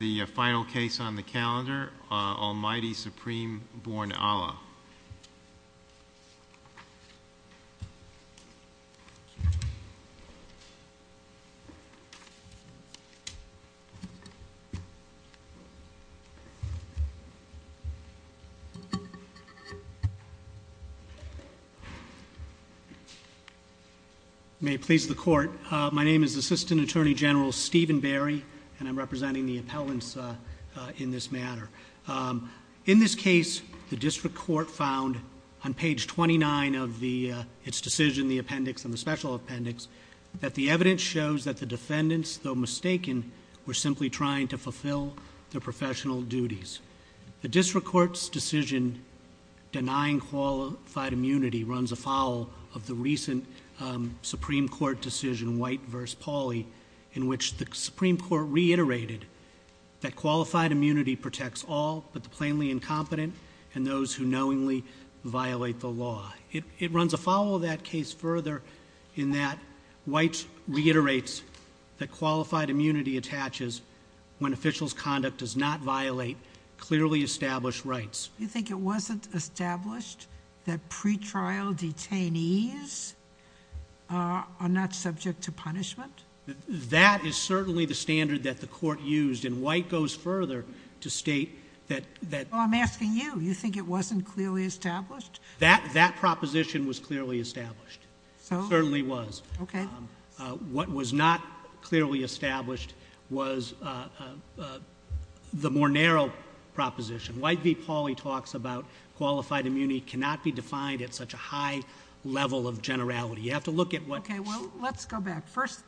The final case on the calendar, Almighty Supreme Born Allah. May it please the court, my name is Assistant Attorney General Stephen Barry and I'm representing the appellants in this matter. In this case, the district court found on page 29 of its decision, the appendix and the special appendix, that the evidence shows that the defendants, though mistaken, were simply trying to fulfill their professional duties. The district court's decision denying qualified immunity runs afoul of the recent Supreme Court decision, White v. Pauli, in which the Supreme Court reiterated that qualified immunity protects all but the plainly incompetent and those who knowingly violate the law. It runs afoul of that case further in that White reiterates that qualified immunity attaches when officials' conduct does not violate clearly established rights. You think it wasn't established that pretrial detainees are not subject to punishment? That is certainly the standard that the court used and White goes further to state that... I'm asking you. You think it wasn't clearly established? That proposition was clearly established, certainly was. What was not clearly established was the more narrow proposition. White v. Pauli talks about qualified immunity cannot be defined at such a high level of generality. You have to look at what... Let's go back. First,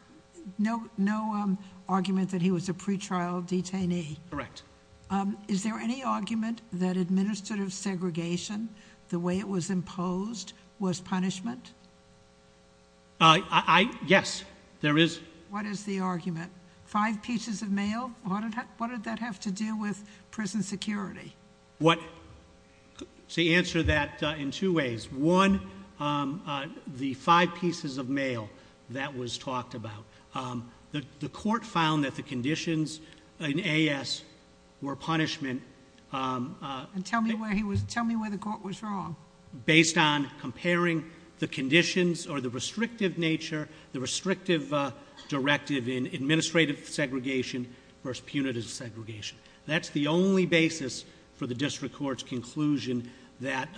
no argument that he was a pretrial detainee. Correct. Is there any argument that administrative segregation, the way it was imposed, was punishment? Yes, there is. What is the argument? Five pieces of mail, what did that have to do with prison security? To answer that in two ways, one, the five pieces of mail that was talked about. The court found that the conditions in A.S. were punishment. Tell me where the court was wrong. Based on comparing the conditions or the restrictive nature, the restrictive directive in administrative segregation versus punitive segregation. That's the only basis for the district court's conclusion that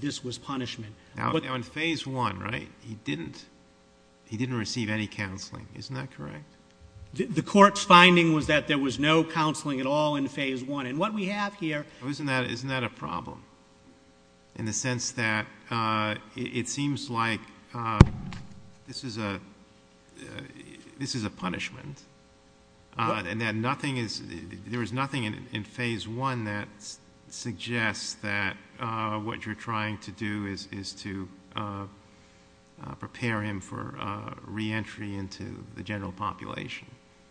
this was punishment. Now, in phase one, right, he didn't receive any counseling, isn't that correct? The court's finding was that there was no counseling at all in phase one. What we have here... Isn't that a problem in the sense that it seems like this is a punishment and that nothing is... there is nothing in phase one that suggests that what you're trying to do is to prepare him for reentry into the general population.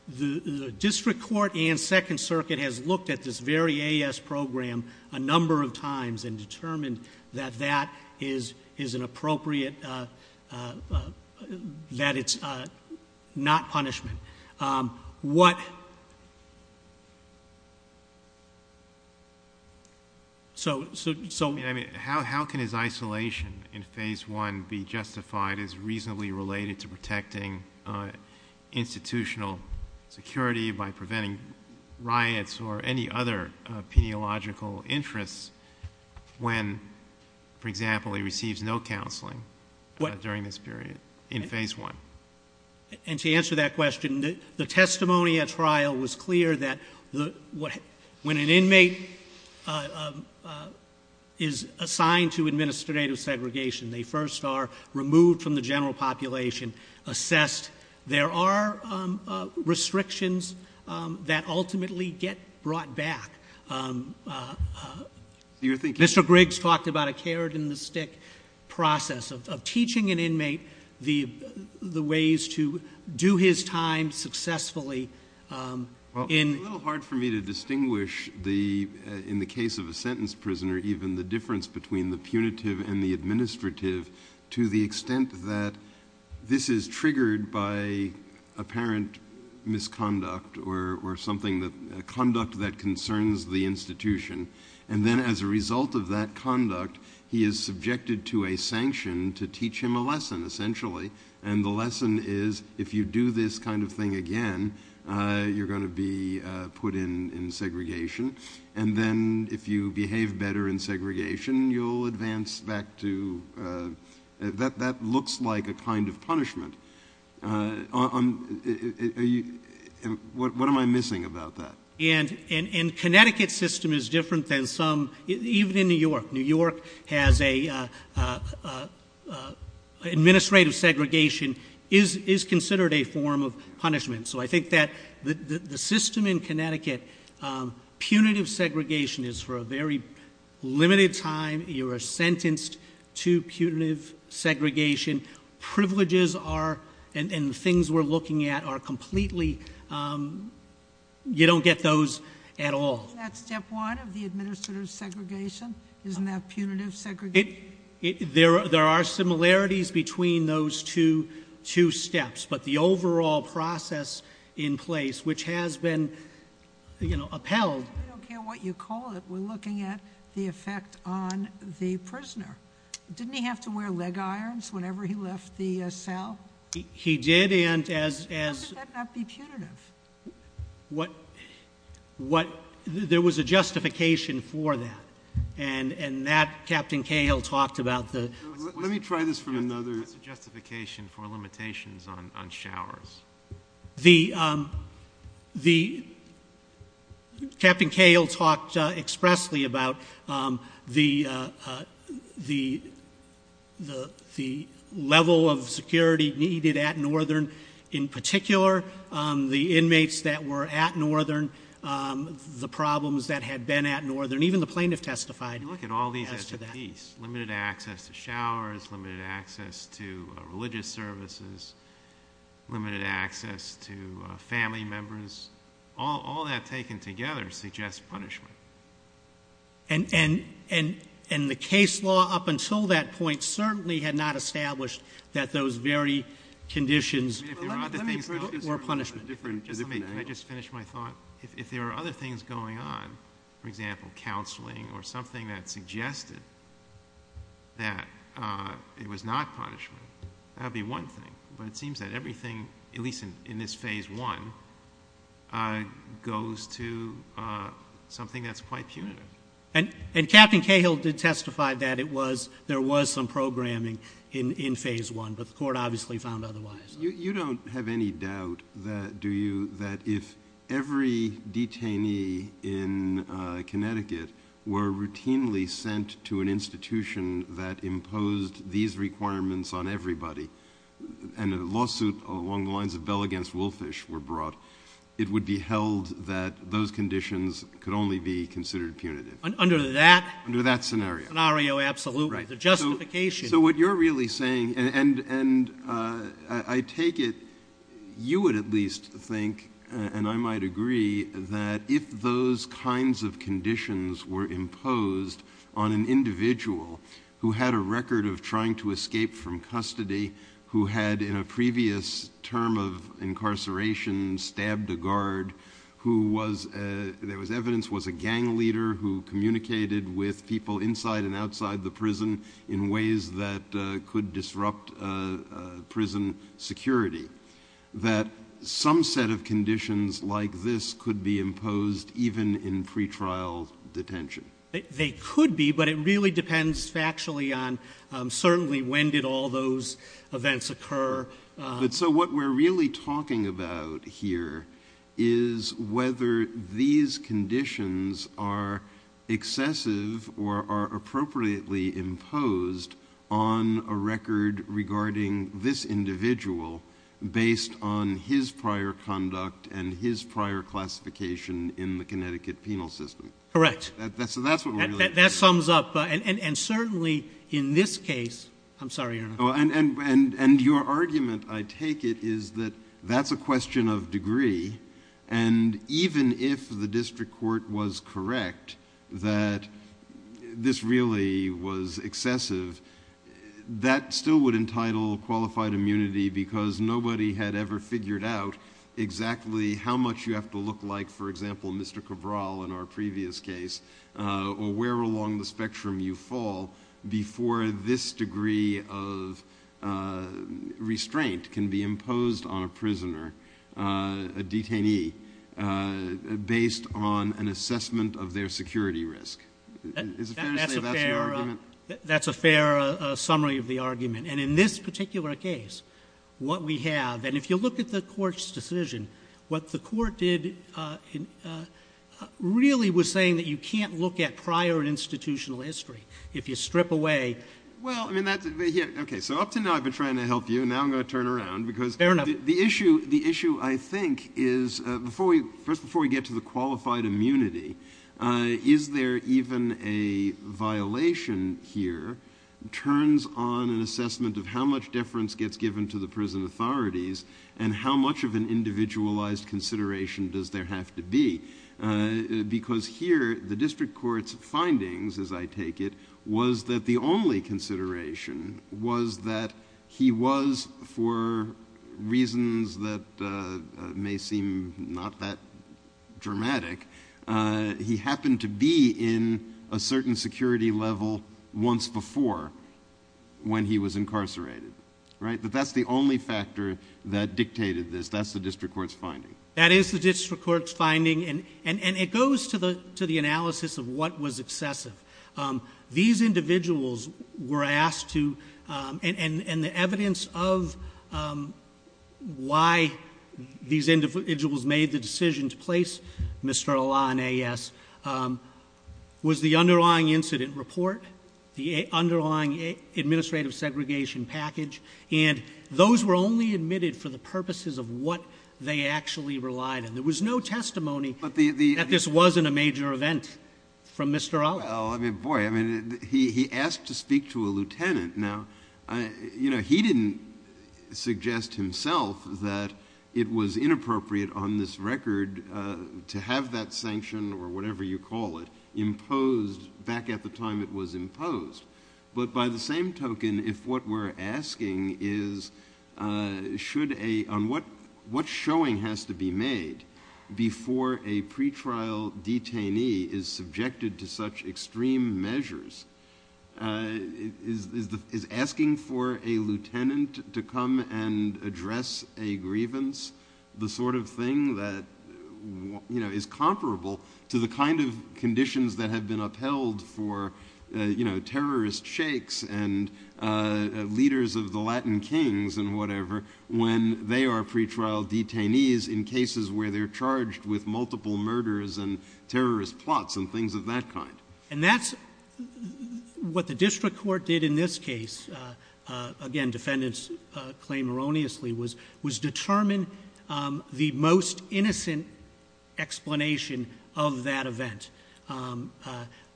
The district court and Second Circuit has looked at this very A.S. program a number of times and determined that that is an appropriate... that it's not punishment. What... So... How can his isolation in phase one be justified as reasonably related to protecting institutional security by preventing riots or any other peniological interests when, for example, he receives no counseling during this period in phase one? And to answer that question, the testimony at trial was clear that when an inmate is assigned to administrative segregation, they first are removed from the general population, assessed. There are restrictions that ultimately get brought back. You're thinking... Mr. Griggs talked about a carrot and a stick process of teaching an inmate the ways to do his time successfully in... It's a little hard for me to distinguish the... in the case of a sentence prisoner, even the difference between the punitive and the administrative to the extent that this is triggered by apparent misconduct or something that... conduct that concerns the institution. And then as a result of that conduct, he is subjected to a sanction to teach him a lesson, essentially. And the lesson is if you do this kind of thing again, you're going to be put in segregation. And then if you behave better in segregation, you'll advance back to... That looks like a kind of punishment. What am I missing about that? And Connecticut's system is different than some... even in New York. New York has a... administrative segregation is considered a form of punishment. So I think that the system in Connecticut, punitive segregation is for a very limited time. You are sentenced to punitive segregation. Privileges are... and things we're looking at are completely... you don't get those at all. Isn't that step one of the administrative segregation? Isn't that punitive segregation? There are similarities between those two steps. But the overall process in place, which has been upheld... I don't care what you call it. We're looking at the effect on the prisoner. Didn't he have to wear leg irons whenever he left the cell? He did and as... How could that not be punitive? What... there was a justification for that. And that, Captain Cahill talked about the... Let me try this from another... What's the justification for limitations on showers? The... Captain Cahill talked expressly about the level of security needed at Northern. In particular, the inmates that were at Northern, the problems that had been at Northern. Even the plaintiff testified as to that. Limited access to showers, limited access to religious services, limited access to family members. All that taken together suggests punishment. And the case law up until that point certainly had not established that those very conditions... Let me approach this from a different angle. Can I just finish my thought? If there are other things going on, for example, counseling or something that suggested that it was not punishment, that would be one thing. But, it seems that everything, at least in this Phase I, goes to something that's quite punitive. And Captain Cahill did testify that it was... there was some programming in Phase I. But, the court obviously found otherwise. You don't have any doubt, do you, that if every detainee in Connecticut were routinely sent to an institution that imposed these requirements on everybody... and a lawsuit along the lines of Bell v. Woolfish were brought, it would be held that those conditions could only be considered punitive. Under that... Under that scenario. The justification... So, what you're really saying, and I take it, you would at least think, and I might agree, that if those kinds of conditions were imposed on an individual... who had a record of trying to escape from custody, who had, in a previous term of incarceration, stabbed a guard... who was, there was evidence, was a gang leader who communicated with people inside and outside the prison, in ways that could disrupt prison security... that some set of conditions like this could be imposed, even in pretrial detention. They could be, but it really depends factually on, certainly, when did all those events occur. But, so what we're really talking about here is whether these conditions are excessive or are appropriately imposed on a record regarding this individual... based on his prior conduct and his prior classification in the Connecticut penal system. Correct. So, that's what we're really... That sums up, and certainly in this case... I'm sorry, Your Honor. And, your argument, I take it, is that that's a question of degree. And, even if the District Court was correct that this really was excessive, that still would entitle qualified immunity... because nobody had ever figured out exactly how much you have to look like, for example, Mr. Cabral in our previous case... or where along the spectrum you fall, before this degree of restraint can be imposed on a prisoner... a detainee, based on an assessment of their security risk. Is it fair to say that's your argument? That's a fair summary of the argument. And, in this particular case, what we have... if you strip away... Well, I mean, that's... Okay. So, up to now, I've been trying to help you. Now, I'm going to turn around, because... Fair enough. The issue, I think, is... First, before we get to the qualified immunity, is there even a violation here... turns on an assessment of how much deference gets given to the prison authorities... and how much of an individualized consideration does there have to be. Because, here, the District Court's findings, as I take it, was that the only consideration... was that he was, for reasons that may seem not that dramatic... he happened to be in a certain security level, once before, when he was incarcerated. Right? But, that's the only factor that dictated this. That's the District Court's finding. That is the District Court's finding, and it goes to the analysis of what was excessive. These individuals were asked to... and the evidence of why these individuals made the decision to place Mr. Alaa on AES... was the underlying incident report, the underlying administrative segregation package... And, those were only admitted for the purposes of what they actually relied on. There was no testimony that this wasn't a major event from Mr. Alaa. Well, I mean, boy, I mean, he asked to speak to a lieutenant. Now, you know, he didn't suggest himself that it was inappropriate on this record... to have that sanction, or whatever you call it, imposed back at the time it was imposed. But, by the same token, if what we're asking is... should a... on what showing has to be made... before a pretrial detainee is subjected to such extreme measures... is asking for a lieutenant to come and address a grievance... the sort of thing that, you know, is comparable to the kind of conditions that have been upheld for... you know, terrorist sheiks and leaders of the Latin Kings and whatever... when they are pretrial detainees in cases where they're charged with multiple murders... and terrorist plots and things of that kind. And, that's what the District Court did in this case. Again, defendants claim erroneously... was determine the most innocent explanation of that event.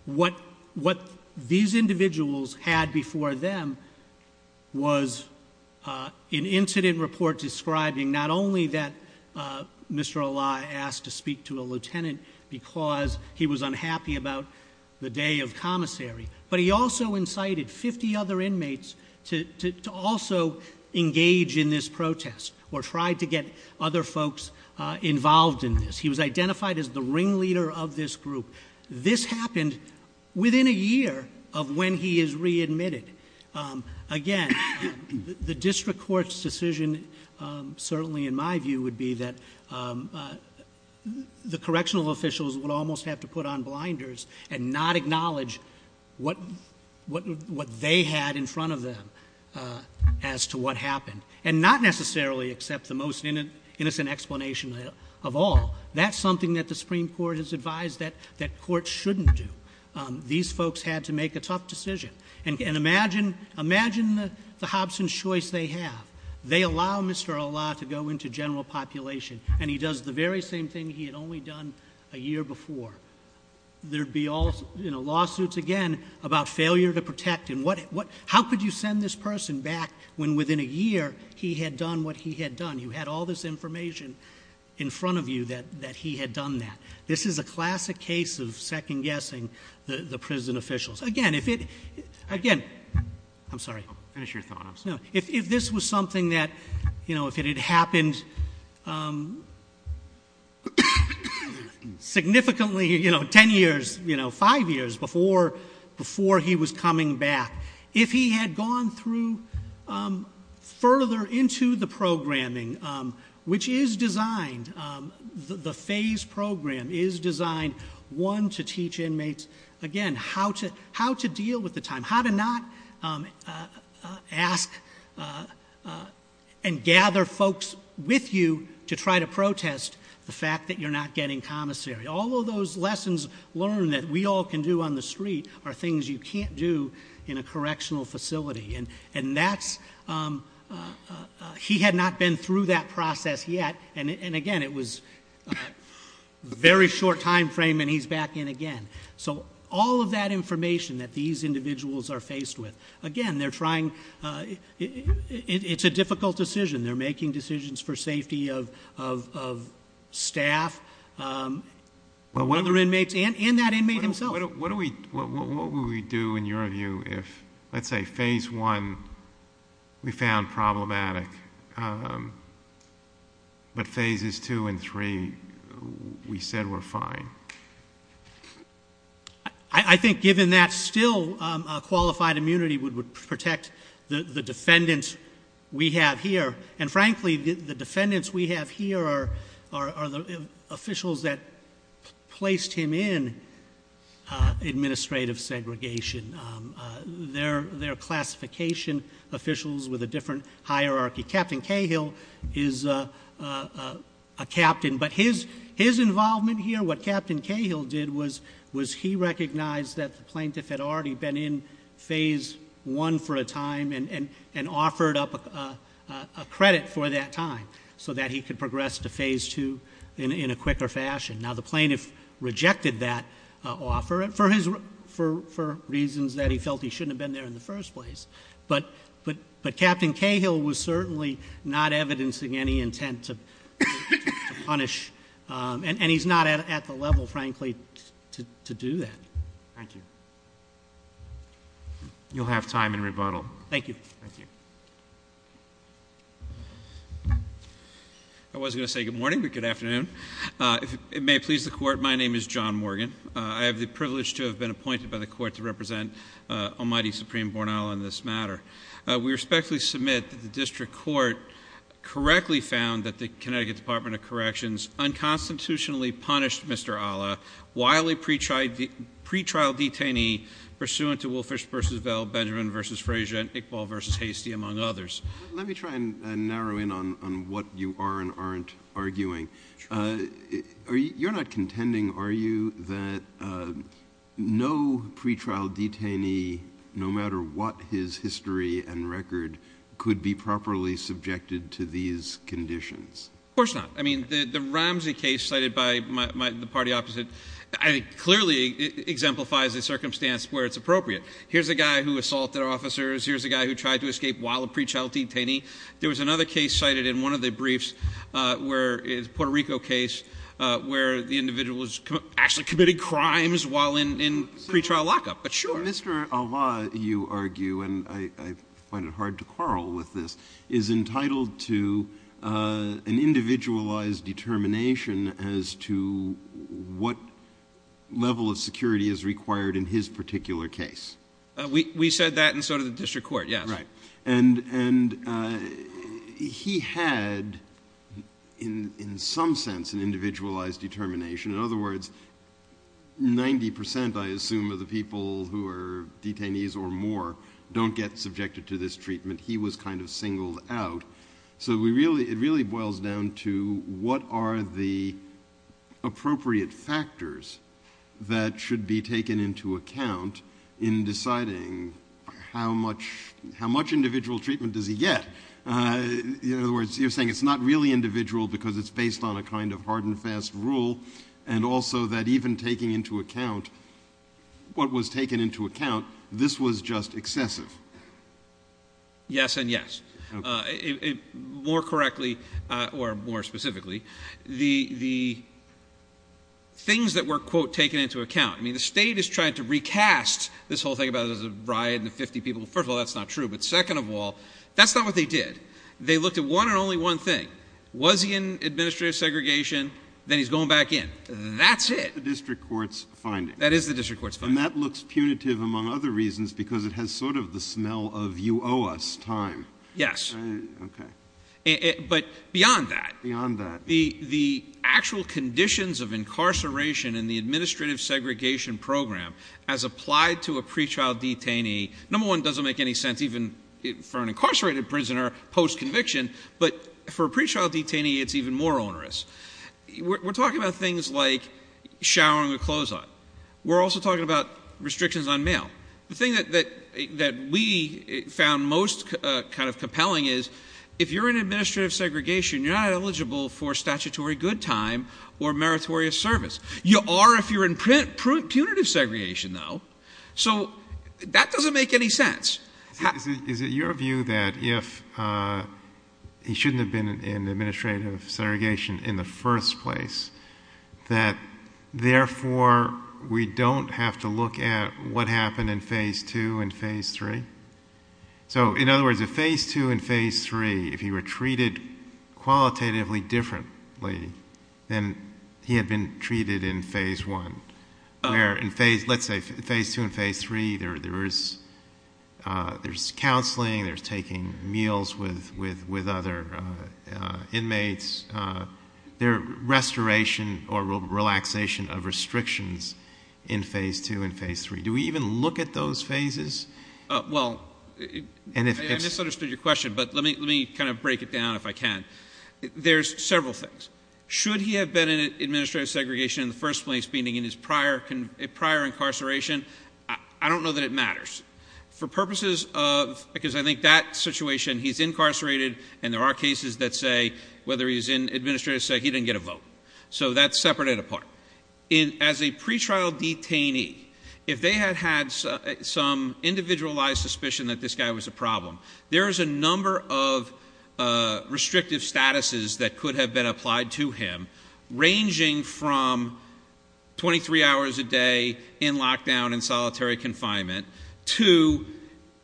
What these individuals had before them... was an incident report describing not only that Mr. Alai asked to speak to a lieutenant... because he was unhappy about the day of commissary. But, he also incited 50 other inmates to also engage in this protest... or try to get other folks involved in this. He was identified as the ringleader of this group. This happened within a year of when he is readmitted. Again, the District Court's decision, certainly in my view, would be that... the correctional officials would almost have to put on blinders... and not acknowledge what they had in front of them, as to what happened. And, not necessarily accept the most innocent explanation of all. That's something that the Supreme Court has advised that courts shouldn't do. These folks had to make a tough decision. And, imagine the Hobson's choice they have. They allow Mr. Alai to go into general population... and he does the very same thing he had only done a year before. There'd be all, you know, lawsuits again, about failure to protect. How could you send this person back, when within a year, he had done what he had done? You had all this information in front of you, that he had done that. This is a classic case of second-guessing the prison officials. Again, if it... Again... I'm sorry. Finish your thought. No. If this was something that, you know, if it had happened... Significantly, you know, 10 years, you know, 5 years before he was coming back. If he had gone through, further into the programming, which is designed... The phase program is designed, one, to teach inmates... Again, how to deal with the time. How to not ask and gather folks with you, to try to protest the fact that you're not getting commissary. All of those lessons learned, that we all can do on the street, are things you can't do in a correctional facility. And that's... He had not been through that process, yet. And again, it was a very short time frame, and he's back in again. So, all of that information that these individuals are faced with... Again, they're trying... It's a difficult decision. They're making decisions for safety of staff, other inmates, and that inmate himself. What do we... What would we do, in your view, if... Let's say phase 1, we found problematic. But, phases 2 and 3, we said we're fine. I think, given that, still qualified immunity would protect the defendants we have here. And frankly, the defendants we have here are the officials that placed him in administrative segregation. They're classification officials with a different hierarchy. But, his involvement here, what Captain Cahill did, was he recognized that the plaintiff had already been in phase 1 for a time, and offered up a credit for that time, so that he could progress to phase 2 in a quicker fashion. Now, the plaintiff rejected that offer for reasons that he felt he shouldn't have been there in the first place. But, Captain Cahill was certainly not evidencing any intent to punish. And, he's not at the level, frankly, to do that. Thank you. You'll have time in rebuttal. Thank you. I was going to say good morning, but good afternoon. If it may please the Court, my name is John Morgan. I have the privilege to have been appointed by the Court to represent Almighty Supreme Bornala in this matter. We respectfully submit that the District Court correctly found that the Connecticut Department of Corrections unconstitutionally punished Mr. Alla while a pretrial detainee pursuant to Wolfish v. Vell, Benjamin v. Frazier, and Iqbal v. Hastie, among others. Let me try and narrow in on what you are and aren't arguing. Sure. You're not contending, are you, that no pretrial detainee, no matter what his history and record, could be properly subjected to these conditions? Of course not. I mean, the Ramsey case cited by the party opposite clearly exemplifies the circumstance where it's appropriate. Here's a guy who assaulted officers. Here's a guy who tried to escape while a pretrial detainee. There was another case cited in one of the briefs, a Puerto Rico case, where the individual was actually committing crimes while in pretrial lockup, but sure. Mr. Alla, you argue, and I find it hard to quarrel with this, is entitled to an individualized determination as to what level of security is required in his particular case. We said that and so did the District Court, yes. Right. And he had, in some sense, an individualized determination. In other words, 90%, I assume, of the people who are detainees or more don't get subjected to this treatment. He was kind of singled out. So it really boils down to what are the appropriate factors that should be taken into account in deciding how much individual treatment does he get? In other words, you're saying it's not really individual because it's based on a kind of hard and fast rule, and also that even taking into account what was taken into account, this was just excessive. Yes and yes. More correctly, or more specifically, the things that were, quote, taken into account. I mean, the state is trying to recast this whole thing about it as a riot and 50 people. First of all, that's not true. But second of all, that's not what they did. They looked at one and only one thing. Was he in administrative segregation? Then he's going back in. That's it. That's the District Court's finding. That is the District Court's finding. And that looks punitive, among other reasons, because it has sort of the smell of you owe us time. Yes. Okay. But beyond that, the actual conditions of incarceration in the administrative segregation program as applied to a pre-child detainee, number one, doesn't make any sense even for an incarcerated prisoner post-conviction, but for a pre-child detainee, it's even more onerous. We're talking about things like showering with clothes on. We're also talking about restrictions on mail. The thing that we found most kind of compelling is if you're in administrative segregation, you're not eligible for statutory good time or meritorious service. You are if you're in punitive segregation, though. So that doesn't make any sense. Is it your view that if he shouldn't have been in administrative segregation in the first place, that therefore we don't have to look at what happened in Phase 2 and Phase 3? So, in other words, if Phase 2 and Phase 3, if he were treated qualitatively differently than he had been treated in Phase 1, where in, let's say, Phase 2 and Phase 3, there's counseling, there's taking meals with other inmates, there's restoration or relaxation of restrictions in Phase 2 and Phase 3. Do we even look at those phases? Well, I misunderstood your question, but let me kind of break it down if I can. There's several things. Should he have been in administrative segregation in the first place, meaning in his prior incarceration? I don't know that it matters. For purposes of, because I think that situation, he's incarcerated, and there are cases that say, whether he's in administrative, say he didn't get a vote. So that's separate and apart. As a pretrial detainee, if they had had some individualized suspicion that this guy was a problem, there is a number of restrictive statuses that could have been applied to him, ranging from 23 hours a day in lockdown and solitary confinement to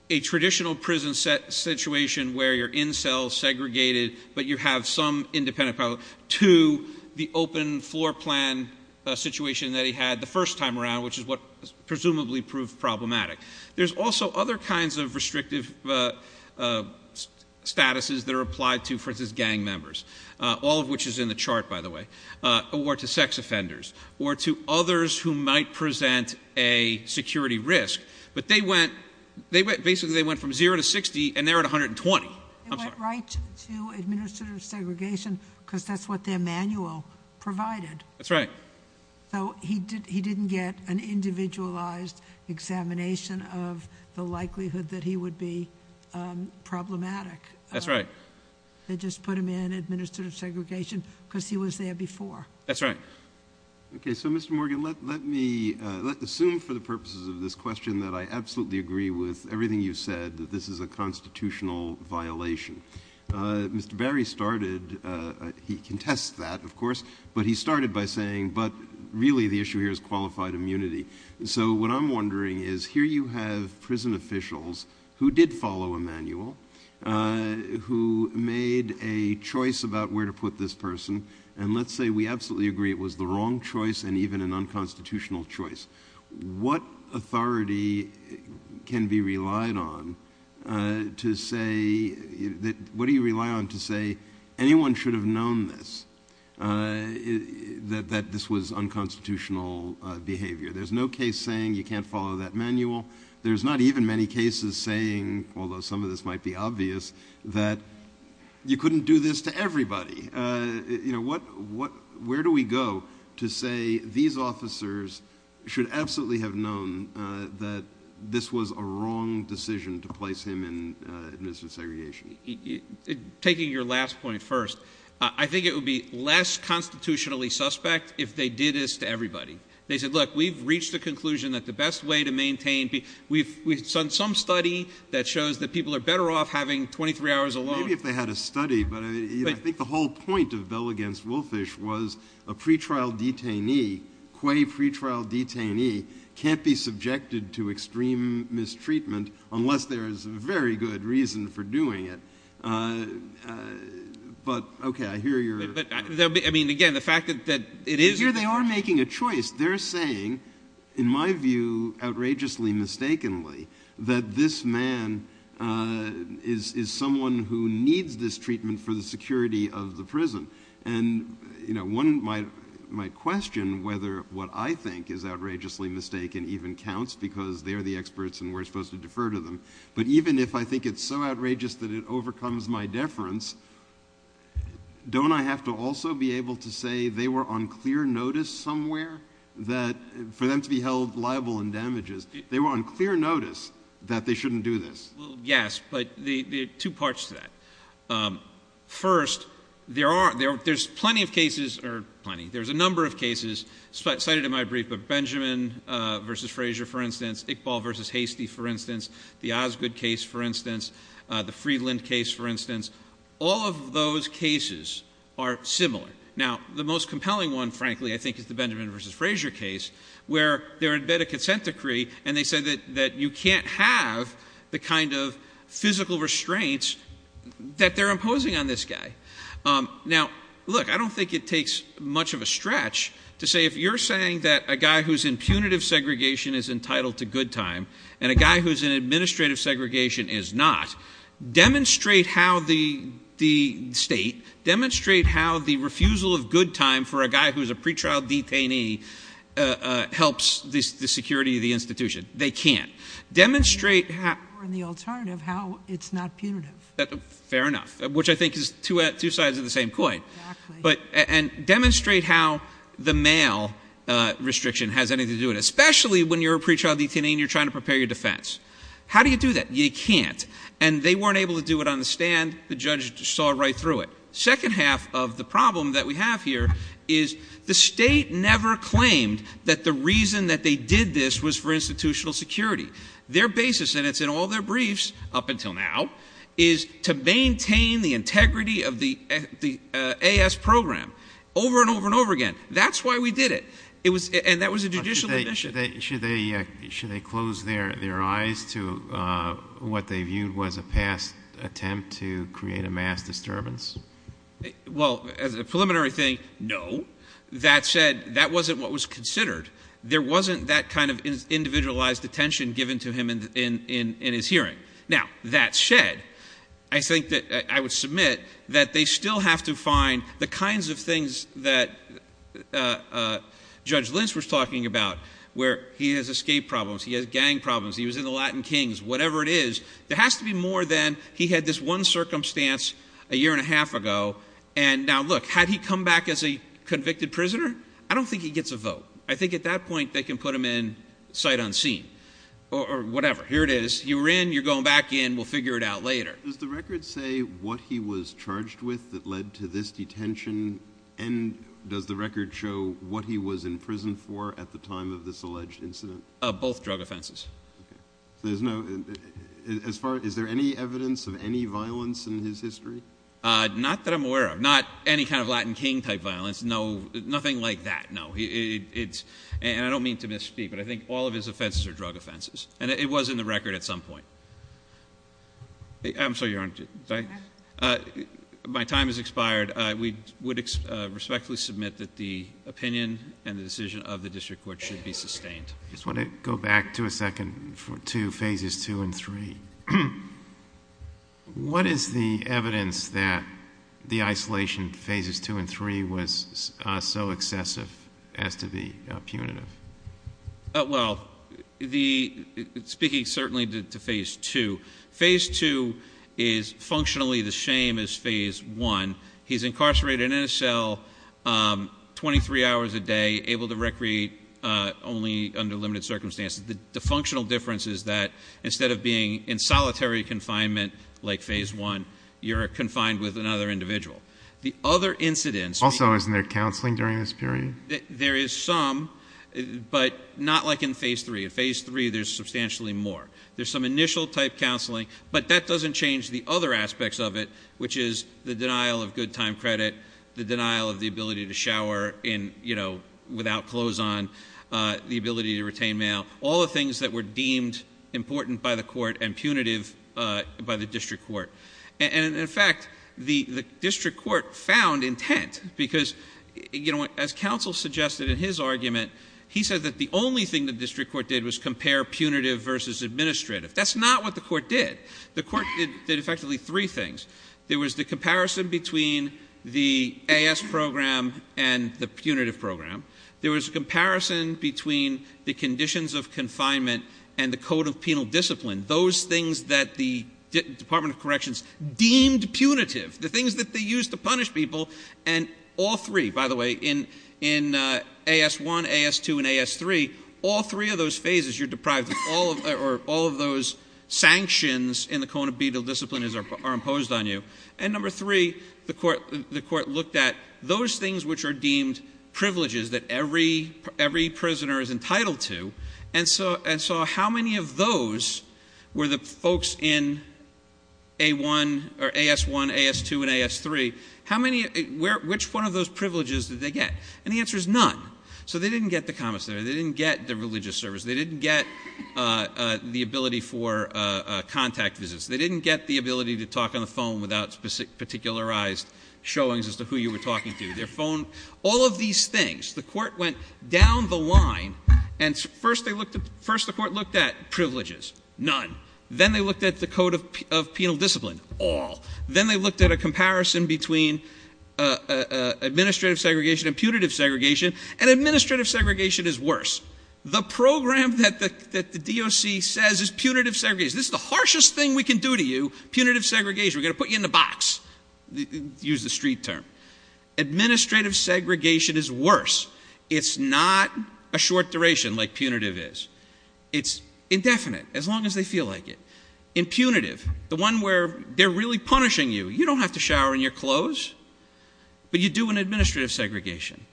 a traditional prison situation where you're in cell, segregated, but you have some independent, to the open floor plan situation that he had the first time around, which is what presumably proved problematic. There's also other kinds of restrictive statuses that are applied to, for instance, gang members, all of which is in the chart, by the way, or to sex offenders or to others who might present a security risk. But they went, basically they went from 0 to 60, and they're at 120. They went right to administrative segregation because that's what their manual provided. That's right. So he didn't get an individualized examination of the likelihood that he would be problematic. That's right. They just put him in administrative segregation because he was there before. That's right. Okay, so Mr. Morgan, let me assume for the purposes of this question that I absolutely agree with everything you said, that this is a constitutional violation. Mr. Barry started, he contests that, of course, but he started by saying, but really the issue here is qualified immunity. So what I'm wondering is here you have prison officials who did follow a manual, who made a choice about where to put this person, and let's say we absolutely agree it was the wrong choice and even an unconstitutional choice. What authority can be relied on to say, what do you rely on to say anyone should have known this, that this was unconstitutional behavior? There's no case saying you can't follow that manual. There's not even many cases saying, although some of this might be obvious, that you couldn't do this to everybody. Where do we go to say these officers should absolutely have known that this was a wrong decision to place him in administrative segregation? Taking your last point first, I think it would be less constitutionally suspect if they did this to everybody. They said, look, we've reached the conclusion that the best way to maintain, we've done some study that shows that people are better off having 23 hours alone. Maybe if they had a study, but I think the whole point of Bell v. Wolfish was a pretrial detainee, a quay pretrial detainee can't be subjected to extreme mistreatment unless there is a very good reason for doing it. But, okay, I hear your – I mean, again, the fact that it is – Here they are making a choice. They're saying, in my view, outrageously mistakenly, that this man is someone who needs this treatment for the security of the prison. And, you know, one might question whether what I think is outrageously mistaken even counts, because they're the experts and we're supposed to defer to them. But even if I think it's so outrageous that it overcomes my deference, don't I have to also be able to say they were on clear notice somewhere for them to be held liable in damages? They were on clear notice that they shouldn't do this. Yes, but there are two parts to that. First, there are – there's plenty of cases – or plenty – there's a number of cases cited in my brief, but Benjamin v. Frazier, for instance, Iqbal v. Hastie, for instance, the Osgood case, for instance, the Friedland case, for instance, all of those cases are similar. Now, the most compelling one, frankly, I think, is the Benjamin v. Frazier case, where they're in bed of consent decree and they say that you can't have the kind of physical restraints that they're imposing on this guy. Now, look, I don't think it takes much of a stretch to say, if you're saying that a guy who's in punitive segregation is entitled to good time and a guy who's in administrative segregation is not, demonstrate how the state – demonstrate how the refusal of good time for a guy who's a pretrial detainee helps the security of the institution. They can't. Demonstrate how – Or the alternative, how it's not punitive. Fair enough, which I think is two sides of the same coin. Exactly. But – and demonstrate how the male restriction has anything to do with it, especially when you're a pretrial detainee and you're trying to prepare your defense. How do you do that? You can't. And they weren't able to do it on the stand. The judge saw right through it. Second half of the problem that we have here is the state never claimed that the reason that they did this was for institutional security. Their basis, and it's in all their briefs up until now, is to maintain the integrity of the AS program over and over and over again. That's why we did it. And that was a judicial admission. Should they close their eyes to what they viewed was a past attempt to create a mass disturbance? Well, as a preliminary thing, no. That said, that wasn't what was considered. There wasn't that kind of individualized attention given to him in his hearing. Now, that said, I think that I would submit that they still have to find the kinds of things that Judge Lentz was talking about, where he has escape problems, he has gang problems, he was in the Latin Kings, whatever it is. There has to be more than he had this one circumstance a year and a half ago. And now, look, had he come back as a convicted prisoner, I don't think he gets a vote. I think at that point they can put him in sight unseen or whatever. Here it is. You're in. You're going back in. We'll figure it out later. Does the record say what he was charged with that led to this detention? And does the record show what he was in prison for at the time of this alleged incident? Both drug offenses. Okay. So there's no – as far – is there any evidence of any violence in his history? Not that I'm aware of. Not any kind of Latin King type violence. No, nothing like that, no. And I don't mean to misspeak, but I think all of his offenses are drug offenses. And it was in the record at some point. I'm sorry, Your Honor. My time has expired. We would respectfully submit that the opinion and the decision of the district court should be sustained. I just want to go back to a second – to phases two and three. What is the evidence that the isolation phases two and three was so excessive as to be punitive? Well, speaking certainly to phase two, phase two is functionally the same as phase one. He's incarcerated in a cell 23 hours a day, able to recreate only under limited circumstances. The functional difference is that instead of being in solitary confinement like phase one, you're confined with another individual. The other incidents – Also, isn't there counseling during this period? There is some, but not like in phase three. In phase three, there's substantially more. There's some initial type counseling, but that doesn't change the other aspects of it, which is the denial of good time credit, the denial of the ability to shower without clothes on, the ability to retain mail, all the things that were deemed important by the court and punitive by the district court. In fact, the district court found intent because, as counsel suggested in his argument, he said that the only thing the district court did was compare punitive versus administrative. That's not what the court did. The court did effectively three things. There was the comparison between the AS program and the punitive program. There was a comparison between the conditions of confinement and the code of penal discipline, those things that the Department of Corrections deemed punitive, the things that they used to punish people. And all three, by the way, in AS1, AS2, and AS3, all three of those phases, you're deprived of all of those sanctions in the code of penal discipline are imposed on you. And number three, the court looked at those things which are deemed privileges that every prisoner is entitled to. And so how many of those were the folks in AS1, AS2, and AS3, which one of those privileges did they get? And the answer is none. So they didn't get the comments there. They didn't get the religious service. They didn't get the ability for contact visits. They didn't get the ability to talk on the phone without particularized showings as to who you were talking to. All of these things. The court went down the line, and first the court looked at privileges. None. Then they looked at the code of penal discipline. All. Then they looked at a comparison between administrative segregation and punitive segregation, and administrative segregation is worse. The program that the DOC says is punitive segregation. This is the harshest thing we can do to you, punitive segregation. We're going to put you in the box. Use the street term. Administrative segregation is worse. It's not a short duration like punitive is. It's indefinite as long as they feel like it. In punitive, the one where they're really punishing you, you don't have to shower in your clothes, but you do in administrative segregation.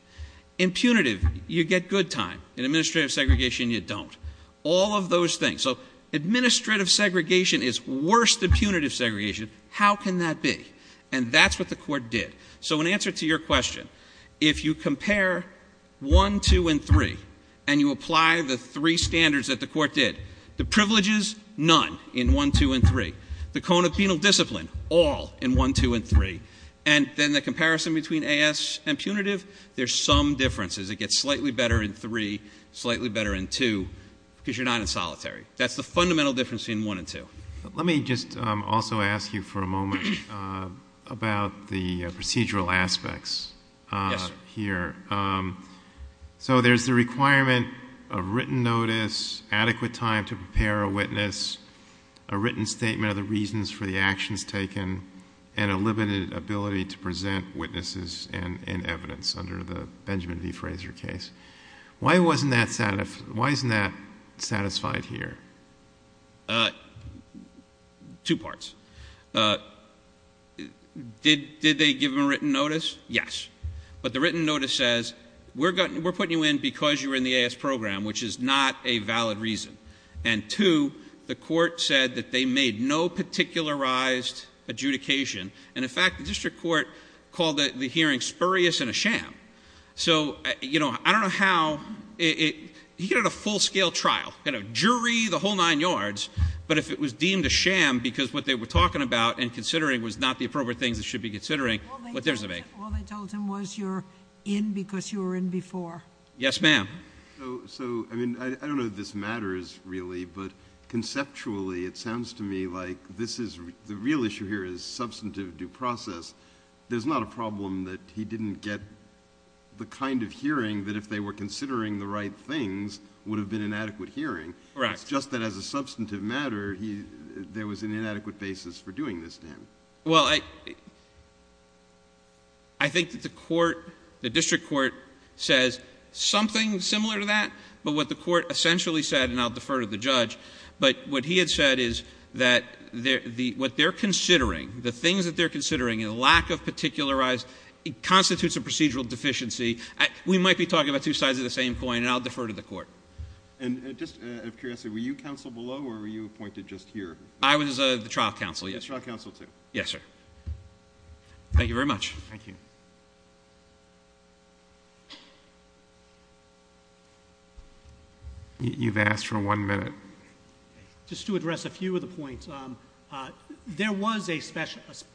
In punitive, you get good time. In administrative segregation, you don't. All of those things. So administrative segregation is worse than punitive segregation. How can that be? And that's what the court did. So in answer to your question, if you compare 1, 2, and 3, and you apply the three standards that the court did, the privileges, none in 1, 2, and 3. The code of penal discipline, all in 1, 2, and 3. And then the comparison between AS and punitive, there's some differences. It gets slightly better in 3, slightly better in 2, because you're not in solitary. That's the fundamental difference between 1 and 2. Let me just also ask you for a moment about the procedural aspects here. So there's the requirement of written notice, adequate time to prepare a witness, a written statement of the reasons for the actions taken, and a limited ability to present witnesses and evidence under the Benjamin v. Fraser case. Why isn't that satisfied here? Two parts. Did they give them a written notice? Yes. But the written notice says, we're putting you in because you were in the AS program, which is not a valid reason. And 2, the court said that they made no particularized adjudication. And, in fact, the district court called the hearing spurious and a sham. So, you know, I don't know how he could have had a full-scale trial, kind of jury the whole nine yards, but if it was deemed a sham because what they were talking about and considering was not the appropriate things they should be considering. All they told him was you're in because you were in before. Yes, ma'am. So, I mean, I don't know if this matters really, but conceptually it sounds to me like the real issue here is substantive due process. There's not a problem that he didn't get the kind of hearing that if they were considering the right things would have been an adequate hearing. Correct. It's just that as a substantive matter there was an inadequate basis for doing this to him. Well, I think that the court, the district court says something similar to that, but what the court essentially said, and I'll defer to the judge, but what he had said is that what they're considering, the things that they're considering and the lack of particularized constitutes a procedural deficiency. We might be talking about two sides of the same coin, and I'll defer to the court. And just out of curiosity, were you counsel below or were you appointed just here? I was the trial counsel, yes. The trial counsel too. Yes, sir. Thank you very much. Thank you. You've asked for one minute. Just to address a few of the points. There was a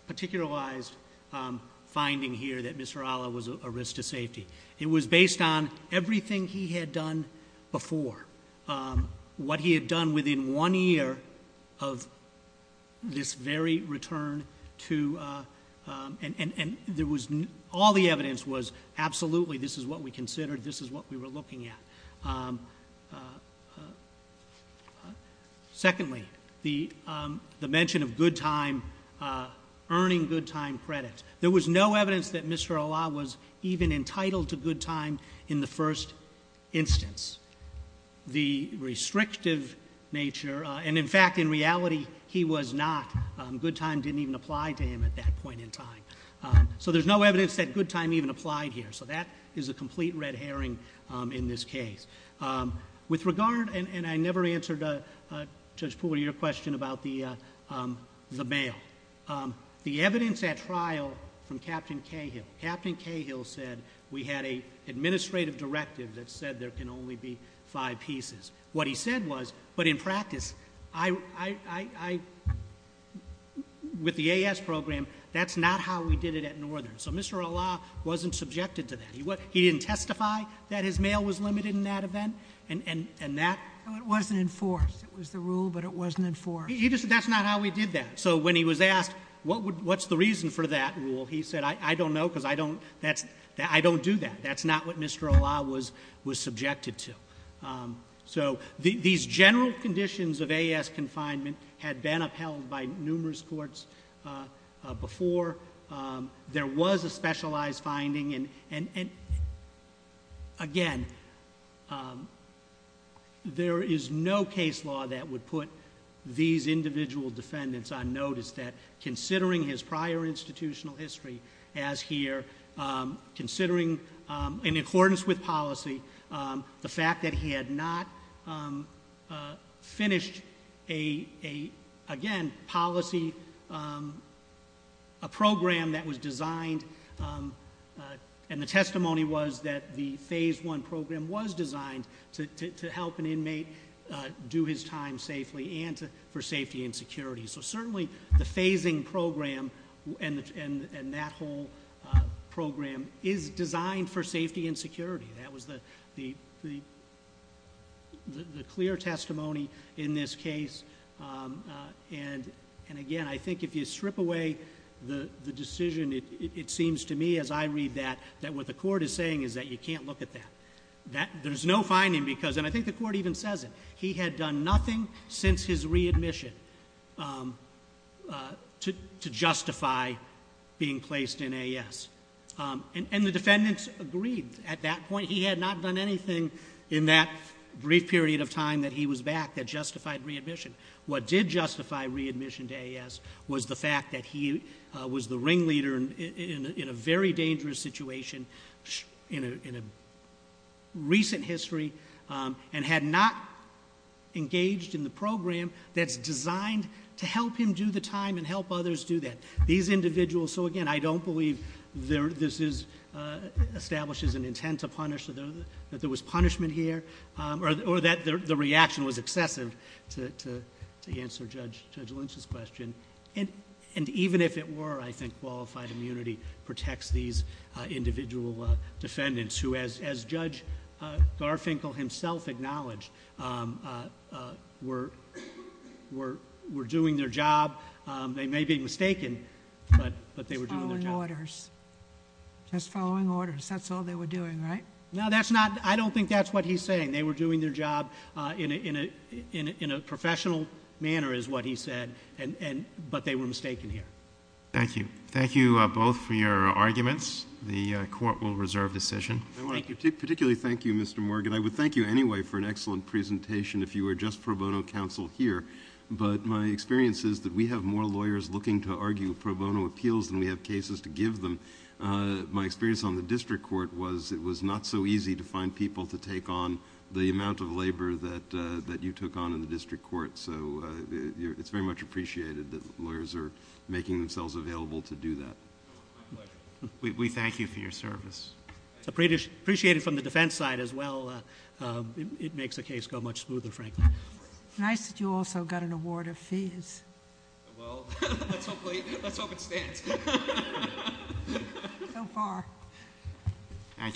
particularized finding here that Mr. Alla was a risk to safety. It was based on everything he had done before, what he had done within one year of this very return to, and all the evidence was absolutely this is what we considered, this is what we were looking at. Secondly, the mention of good time, earning good time credit. There was no evidence that Mr. Alla was even entitled to good time in the first instance. The restrictive nature, and in fact in reality he was not. Good time didn't even apply to him at that point in time. So there's no evidence that good time even applied here. So that is a complete red herring in this case. With regard, and I never answered Judge Poole, your question about the mail. The evidence at trial from Captain Cahill, Captain Cahill said we had an administrative directive that said there can only be five pieces. What he said was, but in practice, with the AS program, that's not how we did it at Northern. So Mr. Alla wasn't subjected to that. He didn't testify that his mail was limited in that event, and that- It wasn't enforced. It was the rule, but it wasn't enforced. That's not how we did that. So when he was asked what's the reason for that rule, he said I don't know because I don't do that. That's not what Mr. Alla was subjected to. So these general conditions of AS confinement had been upheld by numerous courts before. There was a specialized finding, and again, there is no case law that would put these individual defendants on notice that considering his prior institutional history as here, considering in accordance with policy, the fact that he had not finished a, again, policy, a program that was designed, and the testimony was that the phase one program was designed to help an inmate do his time safely and for safety and security. So certainly the phasing program and that whole program is designed for safety and security. That was the clear testimony in this case. And again, I think if you strip away the decision, it seems to me as I read that, that what the court is saying is that you can't look at that. There's no finding because, and I think the court even says it, he had done nothing since his readmission to justify being placed in AS. And the defendants agreed at that point. He had not done anything in that brief period of time that he was back that justified readmission. What did justify readmission to AS was the fact that he was the ringleader in a very dangerous situation in a recent history and had not engaged in the program that's designed to help him do the time and help others do that. So again, I don't believe this establishes an intent to punish, that there was punishment here, or that the reaction was excessive to answer Judge Lynch's question. And even if it were, I think qualified immunity protects these individual defendants who as Judge Garfinkel himself acknowledged were doing their job. They may be mistaken, but they were doing their job. Just following orders. Just following orders. That's all they were doing, right? No, that's not, I don't think that's what he's saying. They were doing their job in a professional manner is what he said, but they were mistaken here. Thank you. Thank you both for your arguments. The court will reserve decision. I want to particularly thank you, Mr. Morgan. I would thank you anyway for an excellent presentation if you were just pro bono counsel here. But my experience is that we have more lawyers looking to argue pro bono appeals than we have cases to give them. My experience on the district court was it was not so easy to find people to take on the amount of labor that you took on in the district court. So it's very much appreciated that lawyers are making themselves available to do that. My pleasure. We thank you for your service. Appreciate it from the defense side as well. It makes the case go much smoother, frankly. Nice that you also got an award of fees. Well, let's hope it stands. So far. Thank you.